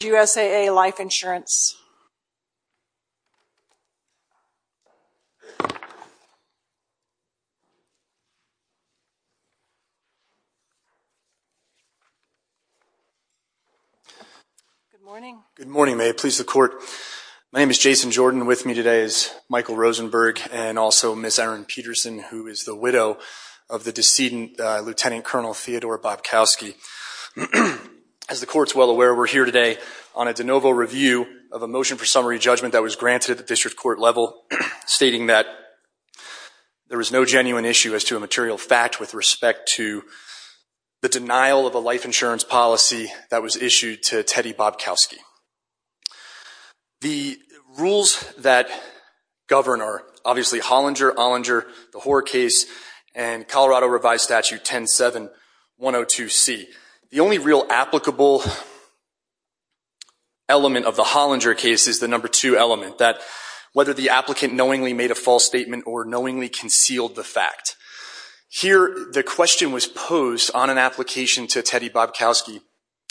Good morning, may it please the Court, my name is Jason Jordan, with me today is Michael Rosenberg and also Ms. Erin Peterson, who is the widow of the decedent Lt. Col. Theodore Bobkowski. As the Court is well aware, we are here today on a de novo review of a motion for summary judgment that was granted at the District Court level stating that there is no genuine issue as to a material fact with respect to the denial of a life insurance policy that was issued to Teddy Bobkowski. The rules that govern are obviously Hollinger, Ollinger, the Hoare case, and Colorado Revised Statute 107-102-C. The only real applicable element of the Hollinger case is the number two element, that whether the applicant knowingly made a false statement or knowingly concealed the fact. Here the question was posed on an application to Teddy Bobkowski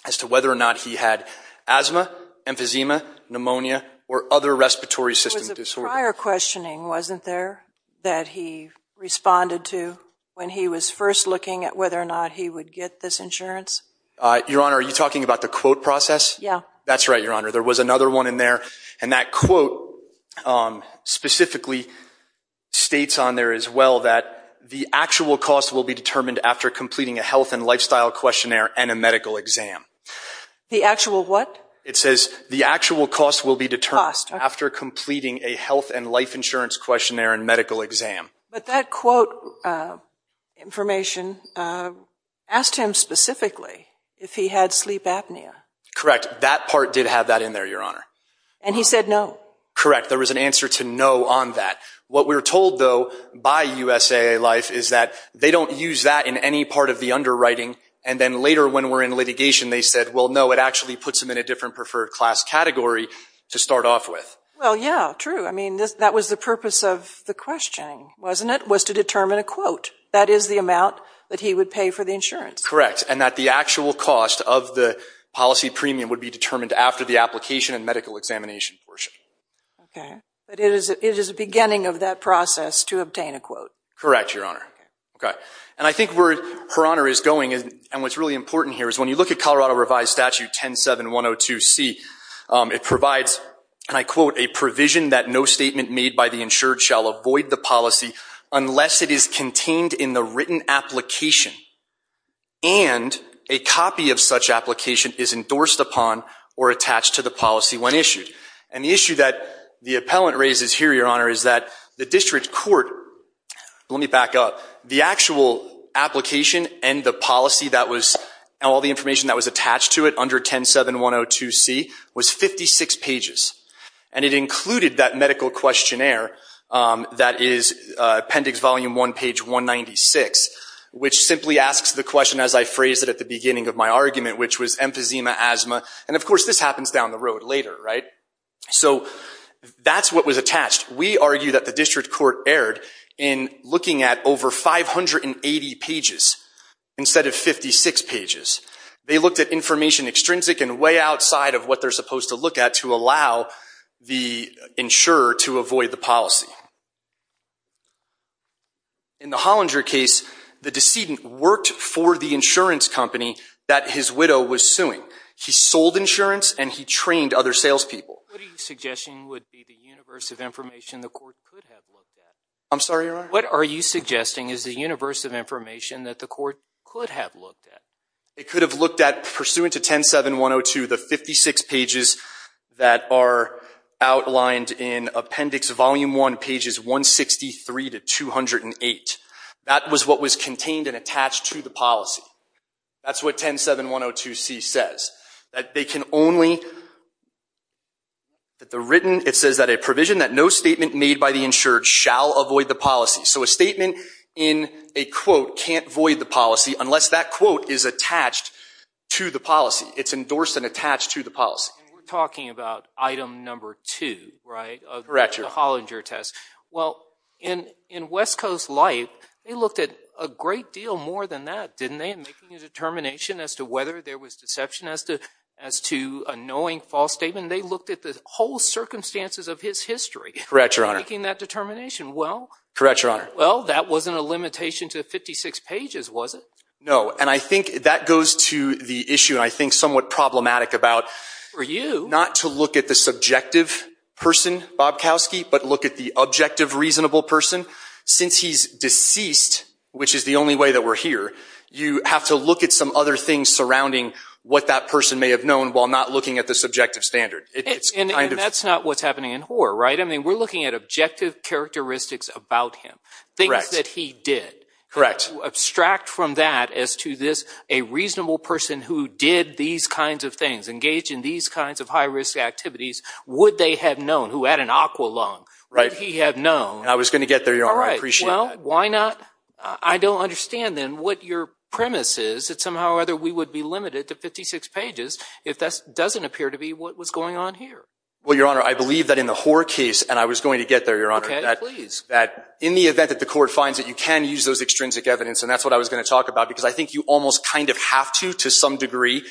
as to whether or not he had asthma, emphysema, pneumonia, or other respiratory system disorders. Prior questioning wasn't there that he responded to when he was first looking at whether or not he would get this insurance? Your Honor, are you talking about the quote process? Yeah. That's right, Your Honor. There was another one in there, and that quote specifically states on there as well that the actual cost will be determined after completing a health and lifestyle questionnaire and a medical exam. The actual what? It says the actual cost will be determined after completing a health and life insurance questionnaire and medical exam. But that quote information asked him specifically if he had sleep apnea. Correct. That part did have that in there, Your Honor. And he said no? Correct. There was an answer to no on that. What we were told though by USAA Life is that they don't use that in any part of the underwriting, and then later when we're in litigation they said, well, no, it actually puts them in a different preferred class category to start off with. Well, yeah, true. I mean, that was the purpose of the questioning, wasn't it? Was to determine a quote. That is the amount that he would pay for the insurance. Correct. And that the actual cost of the policy premium would be determined after the application and medical examination portion. Okay. But it is the beginning of that process to obtain a quote. Correct, Your Honor. And I think where Her Honor is going, and what's really important here, is when you look at Colorado Revised Statute 107102C, it provides, and I quote, a provision that no statement made by the insured shall avoid the policy unless it is contained in the written application, and a copy of such application is endorsed upon or attached to the policy when issued. And the issue that the appellant raises here, Your Honor, is that the district court, let to it under 107102C, was 56 pages. And it included that medical questionnaire that is Appendix Volume 1, page 196, which simply asks the question, as I phrased it at the beginning of my argument, which was emphysema, asthma, and of course this happens down the road later, right? So that's what was attached. We argue that the district court erred in looking at over 580 pages instead of 56 pages. They looked at information extrinsic and way outside of what they're supposed to look at to allow the insurer to avoid the policy. In the Hollinger case, the decedent worked for the insurance company that his widow was suing. He sold insurance and he trained other salespeople. What are you suggesting would be the universe of information the court could have looked at? I'm sorry, Your Honor? What are you suggesting is the universe of information that the court could have looked at? It could have looked at, pursuant to 107102, the 56 pages that are outlined in Appendix Volume 1, pages 163 to 208. That was what was contained and attached to the policy. That's what 107102c says. That they can only, that they're written, it says that a provision that no statement made by the insured shall avoid the policy. So a statement in a quote can't void the policy unless that quote is attached to the policy. It's endorsed and attached to the policy. And we're talking about item number two, right, of the Hollinger test. Well, in West Coast Life, they looked at a great deal more than that, didn't they, in making a determination as to whether there was deception, as to a knowing false statement. They looked at the whole circumstances of his history. Correct, Your Honor. Making that determination. Well. Correct, Your Honor. Well, that wasn't a limitation to 56 pages, was it? No. And I think that goes to the issue, and I think somewhat problematic about not to look at the subjective person, Bob Kowski, but look at the objective, reasonable person. Since he's deceased, which is the only way that we're here, you have to look at some other things surrounding what that person may have known while not looking at the subjective standard. It's kind of. And that's not what's happening in Hoar, right? I mean, we're looking at objective characteristics about him, things that he did. Correct. Abstract from that as to this, a reasonable person who did these kinds of things, engaged in these kinds of high-risk activities, would they have known? Who had an aqua lung. Right. Would he have known? And I was going to get there, Your Honor. I appreciate that. All right. Well, why not? I don't understand, then, what your premise is, that somehow or other we would be limited to 56 pages if that doesn't appear to be what was going on here. Well, Your Honor, I believe that in the Hoar case, and I was going to get there, Your Honor. Okay. Please. That in the event that the court finds that you can use those extrinsic evidence, and that's what I was going to talk about, because I think you almost kind of have to to some standard.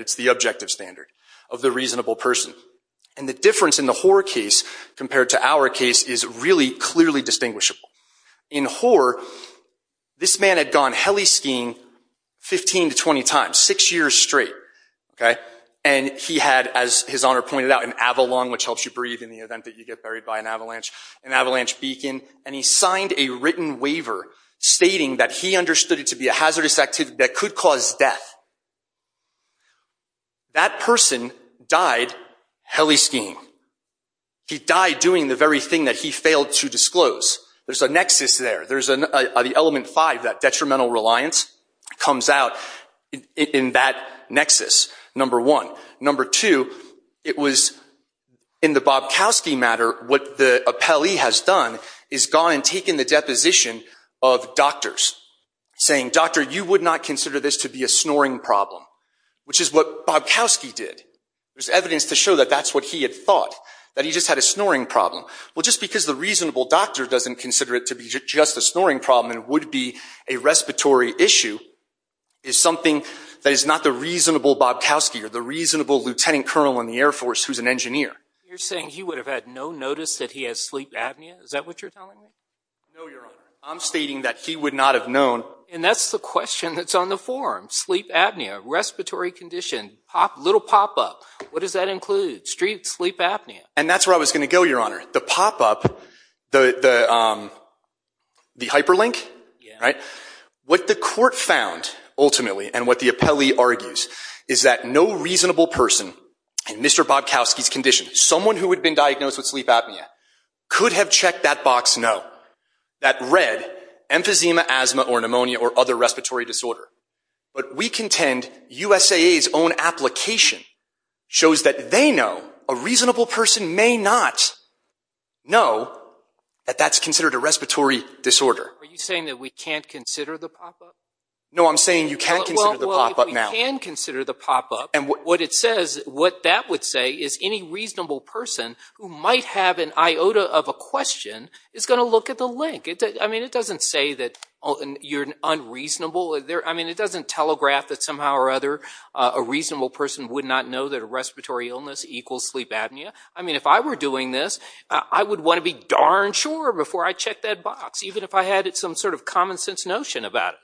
It's the objective standard of the reasonable person. And the difference in the Hoar case compared to our case is really clearly distinguishable. In Hoar, this man had gone heliskiing 15 to 20 times, six years straight, okay? And he had, as His Honor pointed out, an Avalon, which helps you breathe in the event that you get buried by an avalanche, an avalanche beacon, and he signed a written waiver stating that he understood it to be a hazardous activity that could cause death. That person died heliskiing. He died doing the very thing that he failed to disclose. There's a nexus there. There's the element five, that detrimental reliance comes out in that nexus, number one. Number two, it was in the Bobkowski matter, what the appellee has done is gone and taken the deposition of doctors, saying, doctor, you would not consider this to be a snoring problem, which is what Bobkowski did. There's evidence to show that that's what he had thought, that he just had a snoring problem. Well, just because the reasonable doctor doesn't consider it to be just a snoring problem and would be a respiratory issue is something that is not the reasonable Bobkowski or the reasonable lieutenant colonel in the Air Force who's an engineer. You're saying he would have had no notice that he has sleep apnea? Is that what you're telling me? No, Your Honor. I'm stating that he would not have known. And that's the question that's on the form, sleep apnea, respiratory condition, little pop-up. What does that include, sleep apnea? And that's where I was going to go, Your Honor. The pop-up, the hyperlink, what the court found, ultimately, and what the appellee argues, is that no reasonable person in Mr. Bobkowski's condition, someone who had been diagnosed with sleep apnea, could have checked that box, no. That read, emphysema, asthma, or pneumonia, or other respiratory disorder. But we contend USAA's own application shows that they know a reasonable person may not know that that's considered a respiratory disorder. Are you saying that we can't consider the pop-up? No, I'm saying you can consider the pop-up now. Well, if we can consider the pop-up, what it says, what that would say is any reasonable person who might have an iota of a question is going to look at the link. I mean, it doesn't say that you're unreasonable. I mean, it doesn't telegraph that somehow or other a reasonable person would not know that a respiratory illness equals sleep apnea. I mean, if I were doing this, I would want to be darn sure before I checked that box, even if I had some sort of common sense notion about it.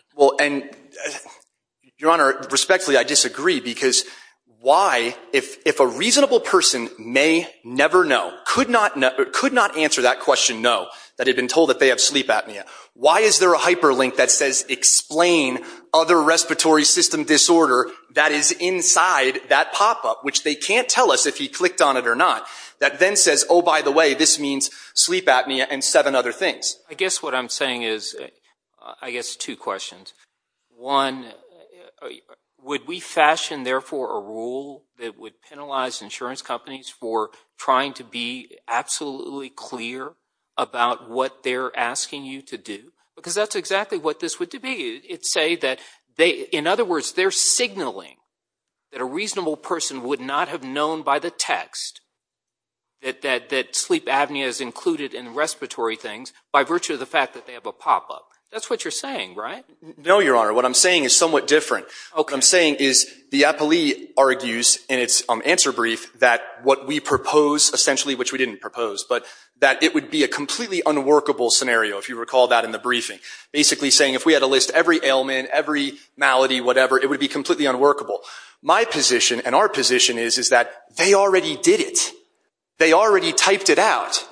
Your Honor, respectfully, I disagree, because why, if a reasonable person may never know, could not answer that question no, that had been told that they have sleep apnea, why is there a hyperlink that says explain other respiratory system disorder that is inside that pop-up, which they can't tell us if he clicked on it or not, that then says, oh, by the way, this means sleep apnea and seven other things? I guess what I'm saying is, I guess, two questions. One, would we fashion, therefore, a rule that would penalize insurance companies for trying to be absolutely clear about what they're asking you to do? Because that's exactly what this would be. It'd say that, in other words, they're signaling that a reasonable person would not have known by the text that sleep apnea is included in respiratory things by virtue of the fact that they have a pop-up. That's what you're saying, right? No, Your Honor. What I'm saying is somewhat different. Okay. What I'm saying is the appellee argues in its answer brief that what we propose, essentially, which we didn't propose, but that it would be a completely unworkable scenario, if you recall that in the briefing, basically saying if we had to list every ailment, every malady, whatever, it would be completely unworkable. My position and our position is that they already did it. They already typed it out,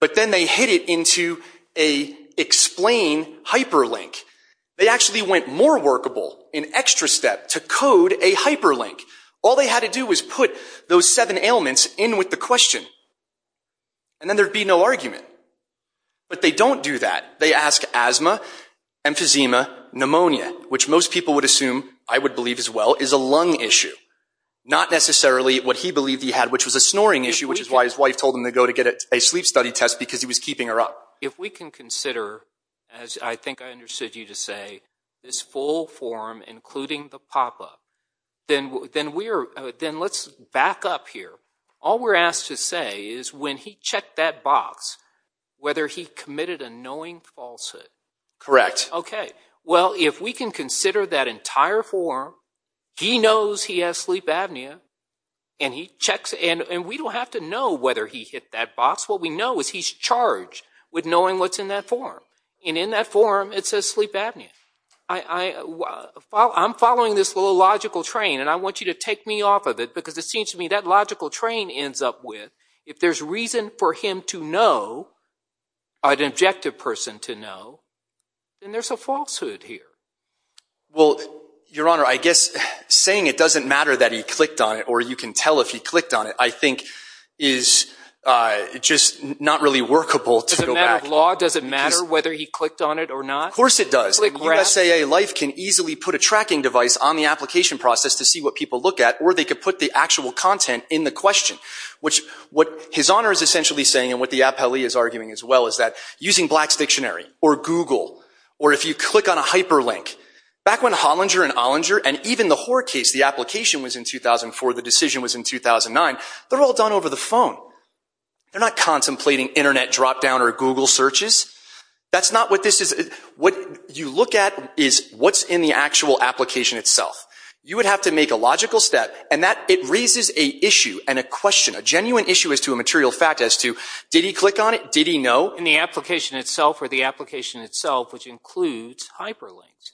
but then they hid it into a explain hyperlink. They actually went more workable, an extra step, to code a hyperlink. All they had to do was put those seven ailments in with the question, and then there'd be no argument. But they don't do that. They ask asthma, emphysema, pneumonia, which most people would assume, I would believe as well, is a lung issue. Not necessarily what he believed he had, which was a snoring issue, which is why his wife told him to go to get a sleep study test because he was keeping her up. If we can consider, as I think I understood you to say, this full form, including the pop-up, then let's back up here. All we're asked to say is when he checked that box, whether he committed a knowing falsehood. Correct. Okay. Well, if we can consider that entire form, he knows he has sleep apnea, and we don't have to know whether he hit that box. What we know is he's charged with knowing what's in that form. In that form, it says sleep apnea. I'm following this little logical train, and I want you to take me off of it because it seems to me that logical train ends up with, if there's reason for him to know, an objective person to know, then there's a falsehood here. Well, Your Honor, I guess saying it doesn't matter that he clicked on it, or you can tell if he clicked on it, I think is just not really workable to go back. Does it matter if law? Does it matter whether he clicked on it or not? Of course it does. Click grass? In USAA life can easily put a tracking device on the application process to see what people look at, or they could put the actual content in the question, which what His Honor is essentially saying and what the appellee is arguing as well is that using Black's Dictionary or Google, or if you click on a hyperlink, back when Hollinger and Ollinger and even the Hoar case, the application was in 2004, the decision was in 2009, they're all done over the phone. They're not contemplating internet drop down or Google searches. That's not what this is. What you look at is what's in the actual application itself. You would have to make a logical step, and it raises an issue and a question, a genuine issue as to a material fact as to, did he click on it? Did he know? In the application itself, or the application itself, which includes hyperlinks.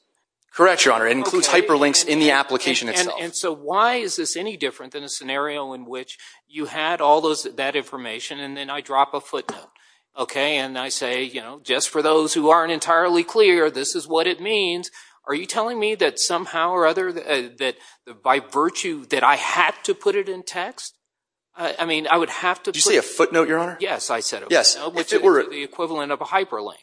Correct, Your Honor, it includes hyperlinks in the application itself. And so why is this any different than a scenario in which you had all that information and then I drop a footnote, okay, and I say, you know, just for those who aren't entirely clear, this is what it means. Are you telling me that somehow or other that by virtue that I had to put it in text? I mean, I would have to put... Did you say a footnote, Your Honor? Yes, I said a footnote, which is the equivalent of a hyperlink.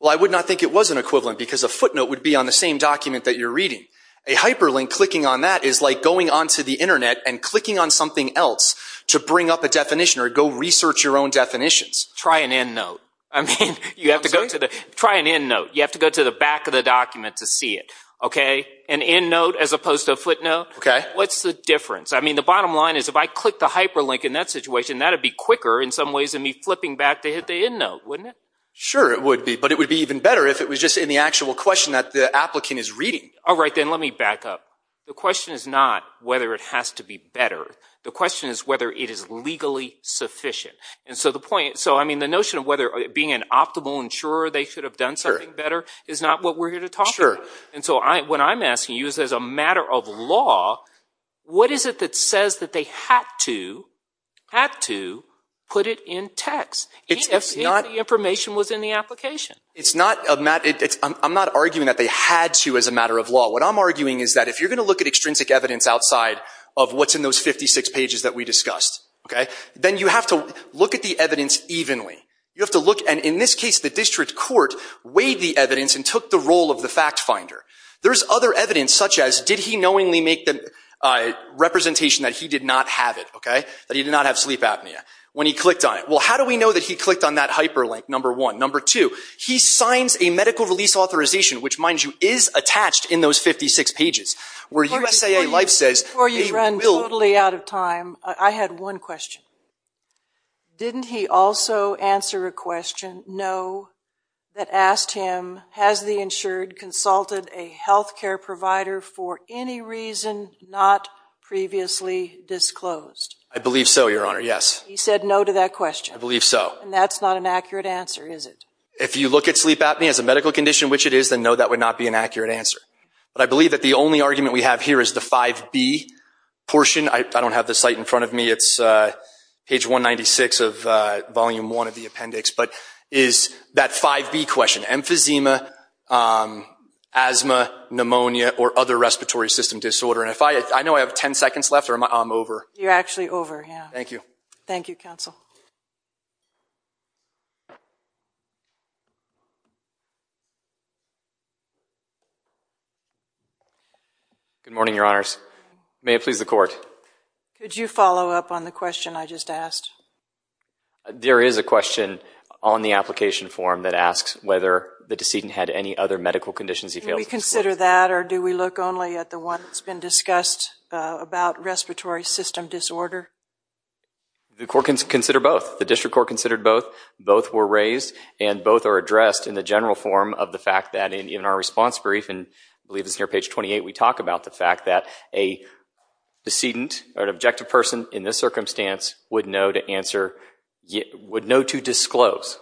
Well, I would not think it was an equivalent because a footnote would be on the same document that you're reading. A hyperlink, clicking on that is like going onto the internet and clicking on something else to bring up a definition or go research your own definitions. Try an endnote. I mean, you have to go to the... Try an endnote. You have to go to the back of the document to see it, okay? An endnote as opposed to a footnote? Okay. What's the difference? I mean, the bottom line is if I click the hyperlink in that situation, that'd be quicker in some ways than me flipping back to hit the endnote, wouldn't it? Sure, it would be. But it would be even better if it was just in the actual question that the applicant is reading. All right, then let me back up. The question is not whether it has to be better. The question is whether it is legally sufficient. And so the point... So, I mean, the notion of whether being an optimal insurer they should have done something better is not what we're here to talk about. And so what I'm asking you is as a matter of law, what is it that says that they had to put it in text if the information was in the application? It's not... I'm not arguing that they had to as a matter of law. What I'm arguing is that if you're going to look at extrinsic evidence outside of what's in those 56 pages that we discussed, okay, then you have to look at the evidence evenly. You have to look... And in this case, the district court weighed the evidence and took the role of the fact finder. There's other evidence such as did he knowingly make the representation that he did not have it, okay, that he did not have sleep apnea when he clicked on it. Well, how do we know that he clicked on that hyperlink, number one? Number two, he signs a medical release authorization which, mind you, is attached in those 56 pages where USAA Life says... Before you run totally out of time, I had one question. Didn't he also answer a question, no, that asked him, has the insured consulted a healthcare provider for any reason not previously disclosed? I believe so, Your Honor, yes. He said no to that question. I believe so. And that's not an accurate answer, is it? If you look at sleep apnea as a medical condition, which it is, then no, that would not be an accurate answer. But I believe that the only argument we have here is the 5B portion. I don't have the site in front of me. It's page 196 of volume one of the appendix. But is that 5B question emphysema, asthma, pneumonia, or other respiratory system disorder? And if I... I know I have 10 seconds left, or am I... I'm over. You're actually over, yeah. Thank you. Thank you, counsel. Good morning, Your Honors. May it please the court. Could you follow up on the question I just asked? There is a question on the application form that asks whether the decedent had any other medical conditions he failed to disclose. Do we consider that, or do we look only at the one that's been discussed about respiratory system disorder? The court can consider both. The district court considered both. Both were raised, and both are addressed in the general form of the fact that in our response brief, and I believe it's near page 28, we talk about the fact that a decedent or an objective person in this circumstance would know to answer... Would know to disclose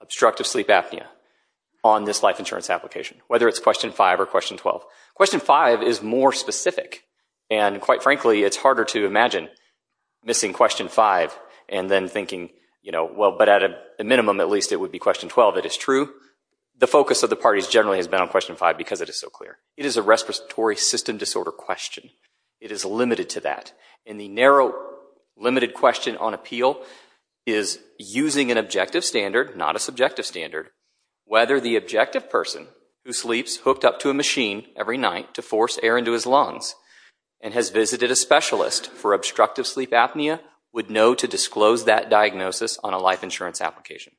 obstructive sleep apnea on this life insurance application, whether it's question five or question 12. Question five is more specific, and quite frankly, it's harder to imagine missing question five and then thinking, you know, well, but at a minimum, at least it would be question 12 that is true. The focus of the parties generally has been on question five because it is so clear. It is a respiratory system disorder question. It is limited to that, and the narrow limited question on appeal is using an objective standard, not a subjective standard, whether the objective person who sleeps hooked up to a machine every night to force air into his lungs and has visited a specialist for obstructive sleep apnea would know to disclose that diagnosis on a life insurance application.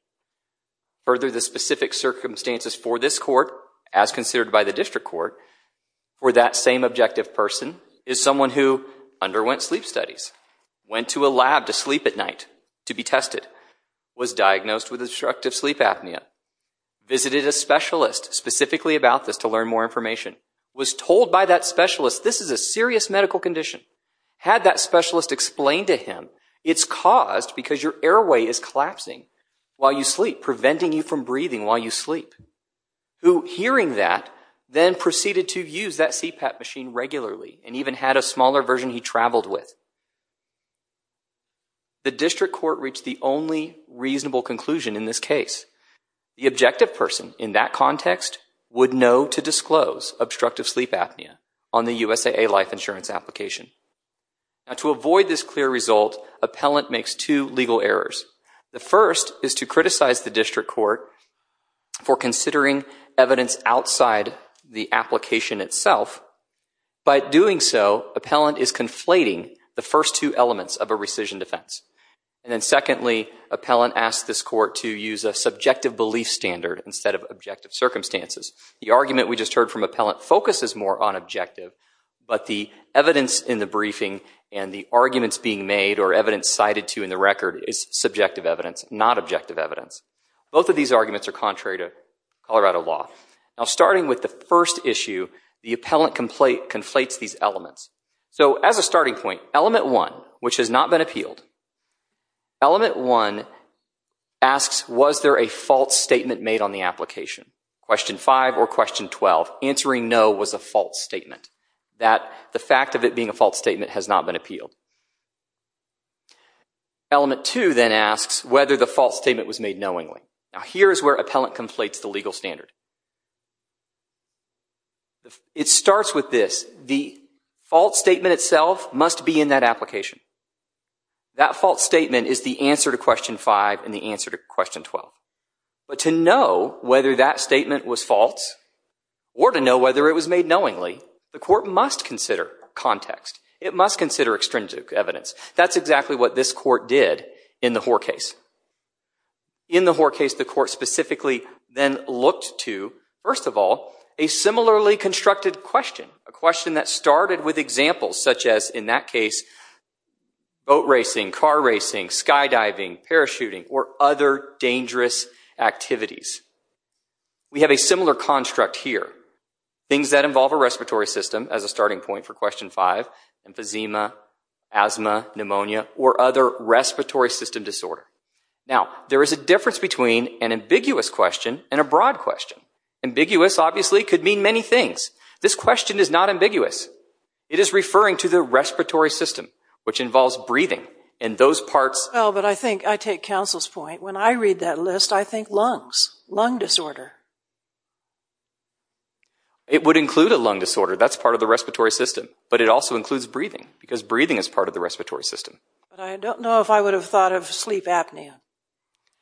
Further, the specific circumstances for this court, as considered by the district court, for that same objective person is someone who underwent sleep studies, went to a lab to sleep at night to be tested, was diagnosed with obstructive sleep apnea, visited a specialist specifically about this to learn more information, was told by that specialist this is a serious medical condition, had that specialist explain to him it's caused because your airway is clogged while you sleep, preventing you from breathing while you sleep, who hearing that then proceeded to use that CPAP machine regularly and even had a smaller version he traveled with. The district court reached the only reasonable conclusion in this case. The objective person in that context would know to disclose obstructive sleep apnea on the USAA life insurance application. To avoid this clear result, appellant makes two legal errors. The first is to criticize the district court for considering evidence outside the application itself. By doing so, appellant is conflating the first two elements of a rescission defense. And then secondly, appellant asks this court to use a subjective belief standard instead of objective circumstances. The argument we just heard from appellant focuses more on objective, but the evidence in the briefing and the arguments being made or evidence cited to in the record is subjective evidence, not objective evidence. Both of these arguments are contrary to Colorado law. Now starting with the first issue, the appellant conflates these elements. So as a starting point, element one, which has not been appealed, element one asks was there a false statement made on the application. Question five or question 12, answering no was a false statement. That the fact of it being a false statement has not been appealed. Element two then asks whether the false statement was made knowingly. Now here is where appellant conflates the legal standard. It starts with this, the false statement itself must be in that application. That false statement is the answer to question five and the answer to question 12. But to know whether that statement was false or to know whether it was made knowingly, the court must consider context. It must consider extrinsic evidence. That's exactly what this court did in the Hoar case. In the Hoar case, the court specifically then looked to, first of all, a similarly constructed question. A question that started with examples such as, in that case, boat racing, car racing, skydiving, parachuting, or other dangerous activities. We have a similar construct here. Things that involve a respiratory system as a starting point for question five, emphysema, asthma, pneumonia, or other respiratory system disorder. Now there is a difference between an ambiguous question and a broad question. Ambiguous obviously could mean many things. This question is not ambiguous. It is referring to the respiratory system, which involves breathing, and those parts Well, but I think, I take counsel's point. When I read that list, I think lungs. Lung disorder. It would include a lung disorder. That's part of the respiratory system. But it also includes breathing, because breathing is part of the respiratory system. But I don't know if I would have thought of sleep apnea,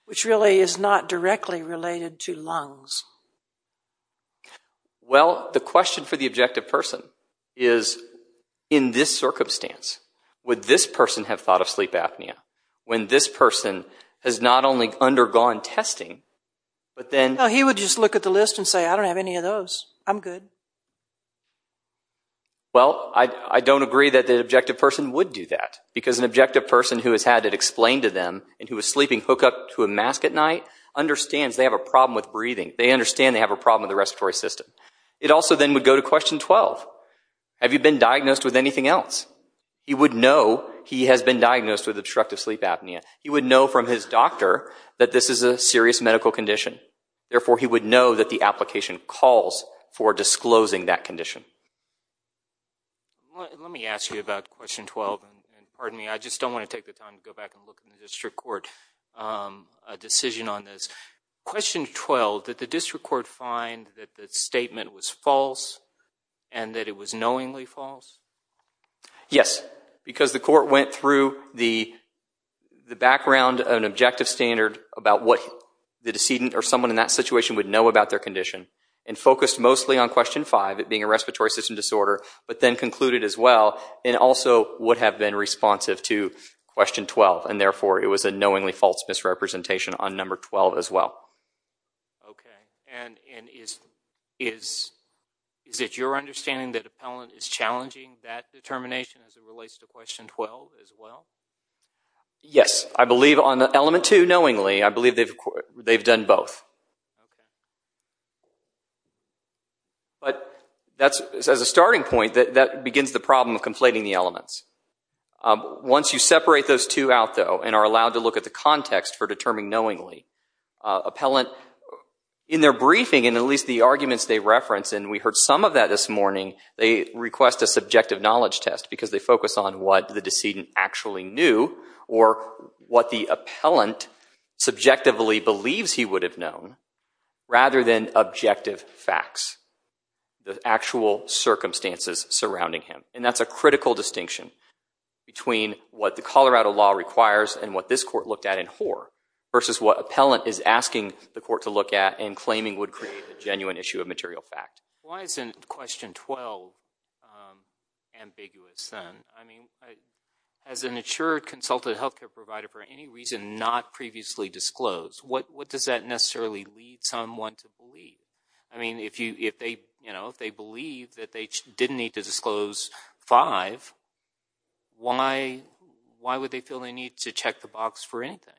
which really is not directly related to lungs. Well, the question for the objective person is, in this circumstance, would this person have thought of sleep apnea? When this person has not only undergone testing, but then He would just look at the list and say, I don't have any of those. I'm good. Well, I don't agree that the objective person would do that. Because an objective person who has had it explained to them, and who is sleeping hook up to a mask at night, understands they have a problem with breathing. They understand they have a problem with the respiratory system. It also then would go to question 12. Have you been diagnosed with anything else? He would know he has been diagnosed with obstructive sleep apnea. He would know from his doctor that this is a serious medical condition. Therefore, he would know that the application calls for disclosing that condition. Let me ask you about question 12, and pardon me, I just don't want to take the time to go back and look in the district court a decision on this. Question 12, did the district court find that the statement was false, and that it was knowingly false? Yes. Because the court went through the background of an objective standard about what the decedent or someone in that situation would know about their condition, and focused mostly on question five, it being a respiratory system disorder, but then concluded as well, it also would have been responsive to question 12. And therefore, it was a knowingly false misrepresentation on number 12 as well. Okay. And is it your understanding that an appellant is challenging that determination as it relates to question 12 as well? Yes. I believe on element two, knowingly, I believe they've done both. But as a starting point, that begins the problem of conflating the elements. Once you separate those two out though, and are allowed to look at the context for determining knowingly, appellant, in their briefing, and at least the arguments they reference, and we heard some of that this morning, they request a subjective knowledge test, because they focus on what the decedent actually knew, or what the appellant subjectively believes he would have known, rather than objective facts, the actual circumstances surrounding him. And that's a critical distinction between what the Colorado law requires, and what this court looked at in Hoar, versus what appellant is asking the court to look at, and claiming would create a genuine issue of material fact. Why isn't question 12 ambiguous then? As an insured, consulted health care provider, for any reason not previously disclosed, what does that necessarily lead someone to believe? I mean, if they believe that they didn't need to disclose 5, why would they feel they need to check the box for anything?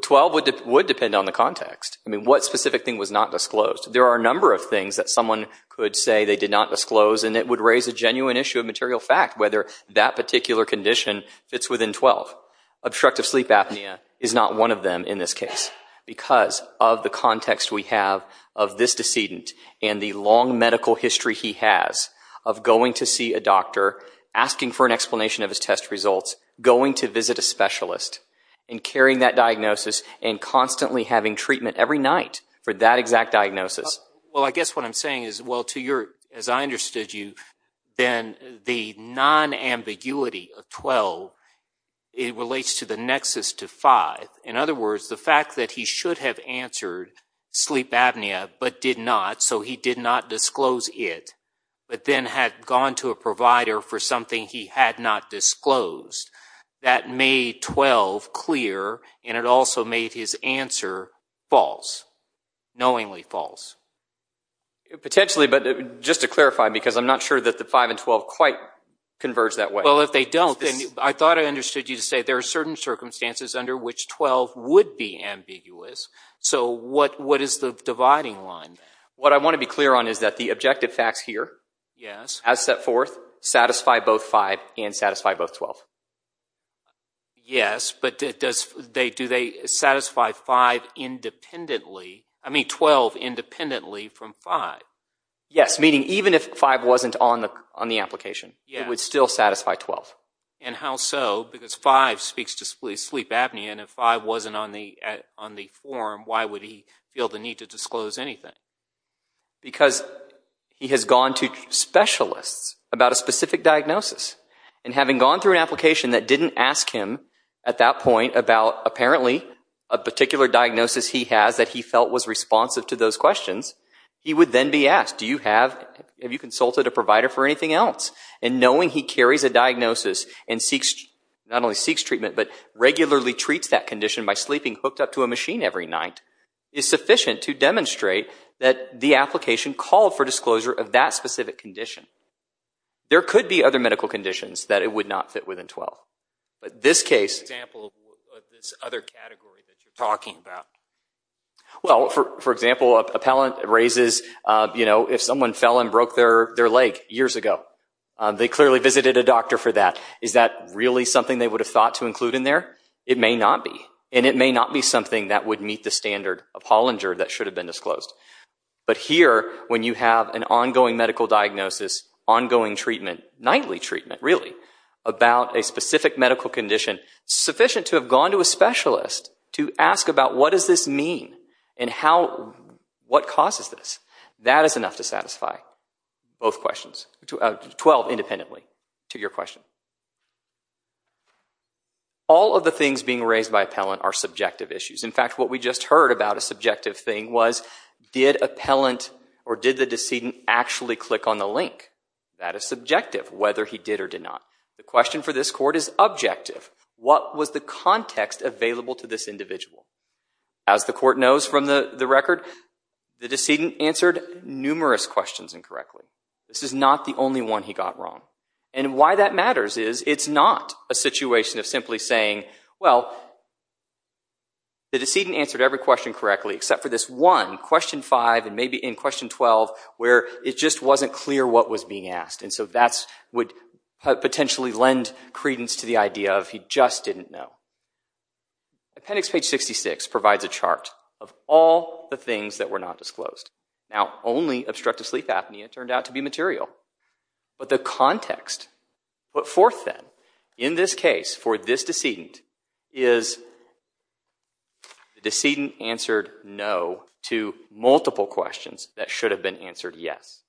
12 would depend on the context. What specific thing was not disclosed? There are a number of things that someone could say they did not disclose, and it would raise a genuine issue of material fact, whether that particular condition fits within 12. Obstructive sleep apnea is not one of them in this case, because of the context we have of this decedent, and the long medical history he has of going to see a doctor, asking for an explanation of his test results, going to visit a specialist, and carrying that diagnosis, and constantly having treatment every night for that exact diagnosis. Well, I guess what I'm saying is, well, to your, as I understood you, then the non-ambiguity of 12, it relates to the nexus to 5. In other words, the fact that he should have answered sleep apnea, but did not, so he did not disclose it, but then had gone to a provider for something he had not disclosed. That made 12 clear, and it also made his answer false, knowingly false. Potentially, but just to clarify, because I'm not sure that the 5 and 12 quite converge that way. Well, if they don't, then I thought I understood you to say there are certain circumstances under which 12 would be ambiguous, so what is the dividing line there? What I want to be clear on is that the objective facts here, as set forth, satisfy both 5 and satisfy both 12. Yes, but do they satisfy 5 independently, I mean 12 independently from 5? Yes, meaning even if 5 wasn't on the application, it would still satisfy 12. And how so? Because 5 speaks to sleep apnea, and if 5 wasn't on the form, why would he feel the need to disclose anything? Because he has gone to specialists about a specific diagnosis, and having gone through an application that didn't ask him at that point about apparently a particular diagnosis he has that he felt was responsive to those questions, he would then be asked, have you consulted a provider for anything else? And knowing he carries a diagnosis and not only seeks treatment, but regularly treats that condition by sleeping hooked up to a machine every night, is sufficient to demonstrate that the application called for disclosure of that specific condition. There could be other medical conditions that it would not fit within 12, but this case is a good example of this other category that you're talking about. Well, for example, appellant raises, you know, if someone fell and broke their leg years ago, they clearly visited a doctor for that. Is that really something they would have thought to include in there? It may not be, and it may not be something that would meet the standard of Hollinger that should have been disclosed. But here, when you have an ongoing medical diagnosis, ongoing treatment, nightly treatment really, about a specific medical condition, sufficient to have gone to a specialist to ask about what does this mean and how, what causes this? That is enough to satisfy both questions, 12 independently, to your question. All of the things being raised by appellant are subjective issues. In fact, what we just heard about a subjective thing was, did appellant or did the decedent actually click on the link? That is subjective, whether he did or did not. The question for this court is objective. What was the context available to this individual? As the court knows from the record, the decedent answered numerous questions incorrectly. This is not the only one he got wrong. And why that matters is, it's not a situation of simply saying, well, the decedent answered every question correctly except for this one, question 5, and maybe in question 12, where it just wasn't clear what was being asked. And so that would potentially lend credence to the idea of he just didn't know. Appendix page 66 provides a chart of all the things that were not disclosed. Now only obstructive sleep apnea turned out to be material. But the context put forth then, in this case, for this decedent, is the decedent answered no to multiple questions that should have been answered yes.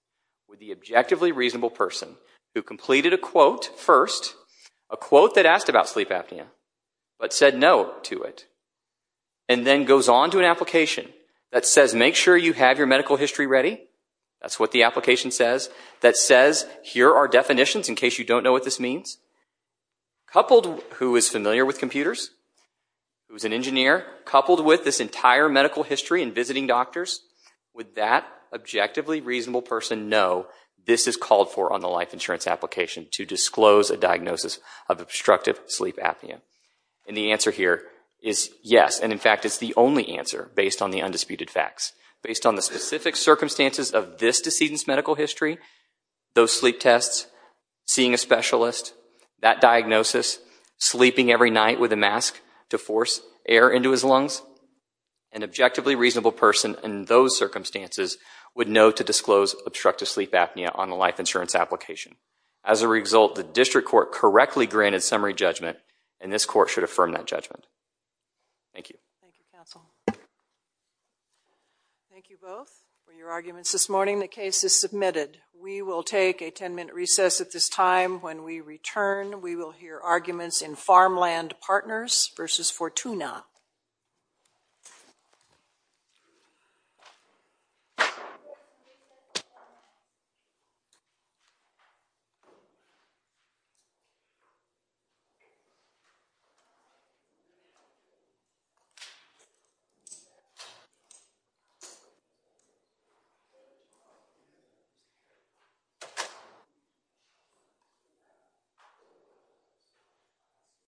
With the objectively reasonable person who completed a quote first, a quote that asked about sleep apnea, but said no to it, and then goes on to an application that says make sure you have your medical history ready, that's what the application says, that says here are definitions in case you don't know what this means, coupled with who is familiar with computers, who is an engineer, coupled with this entire medical history and visiting doctors, would that objectively reasonable person know this is called for on the life insurance application to disclose a diagnosis of obstructive sleep apnea? And the answer here is yes, and in fact, it's the only answer based on the undisputed facts. Based on the specific circumstances of this decedent's medical history, those sleep tests, seeing a specialist, that diagnosis, sleeping every night with a mask to force air into his lungs, an objectively reasonable person in those circumstances would know to disclose obstructive sleep apnea on the life insurance application. As a result, the district court correctly granted summary judgment, and this court should affirm that judgment. Thank you. Thank you, counsel. Thank you both for your arguments this morning. The case is submitted. We will take a 10-minute recess at this time. When we return, we will hear arguments in Farmland Partners versus Fortuna.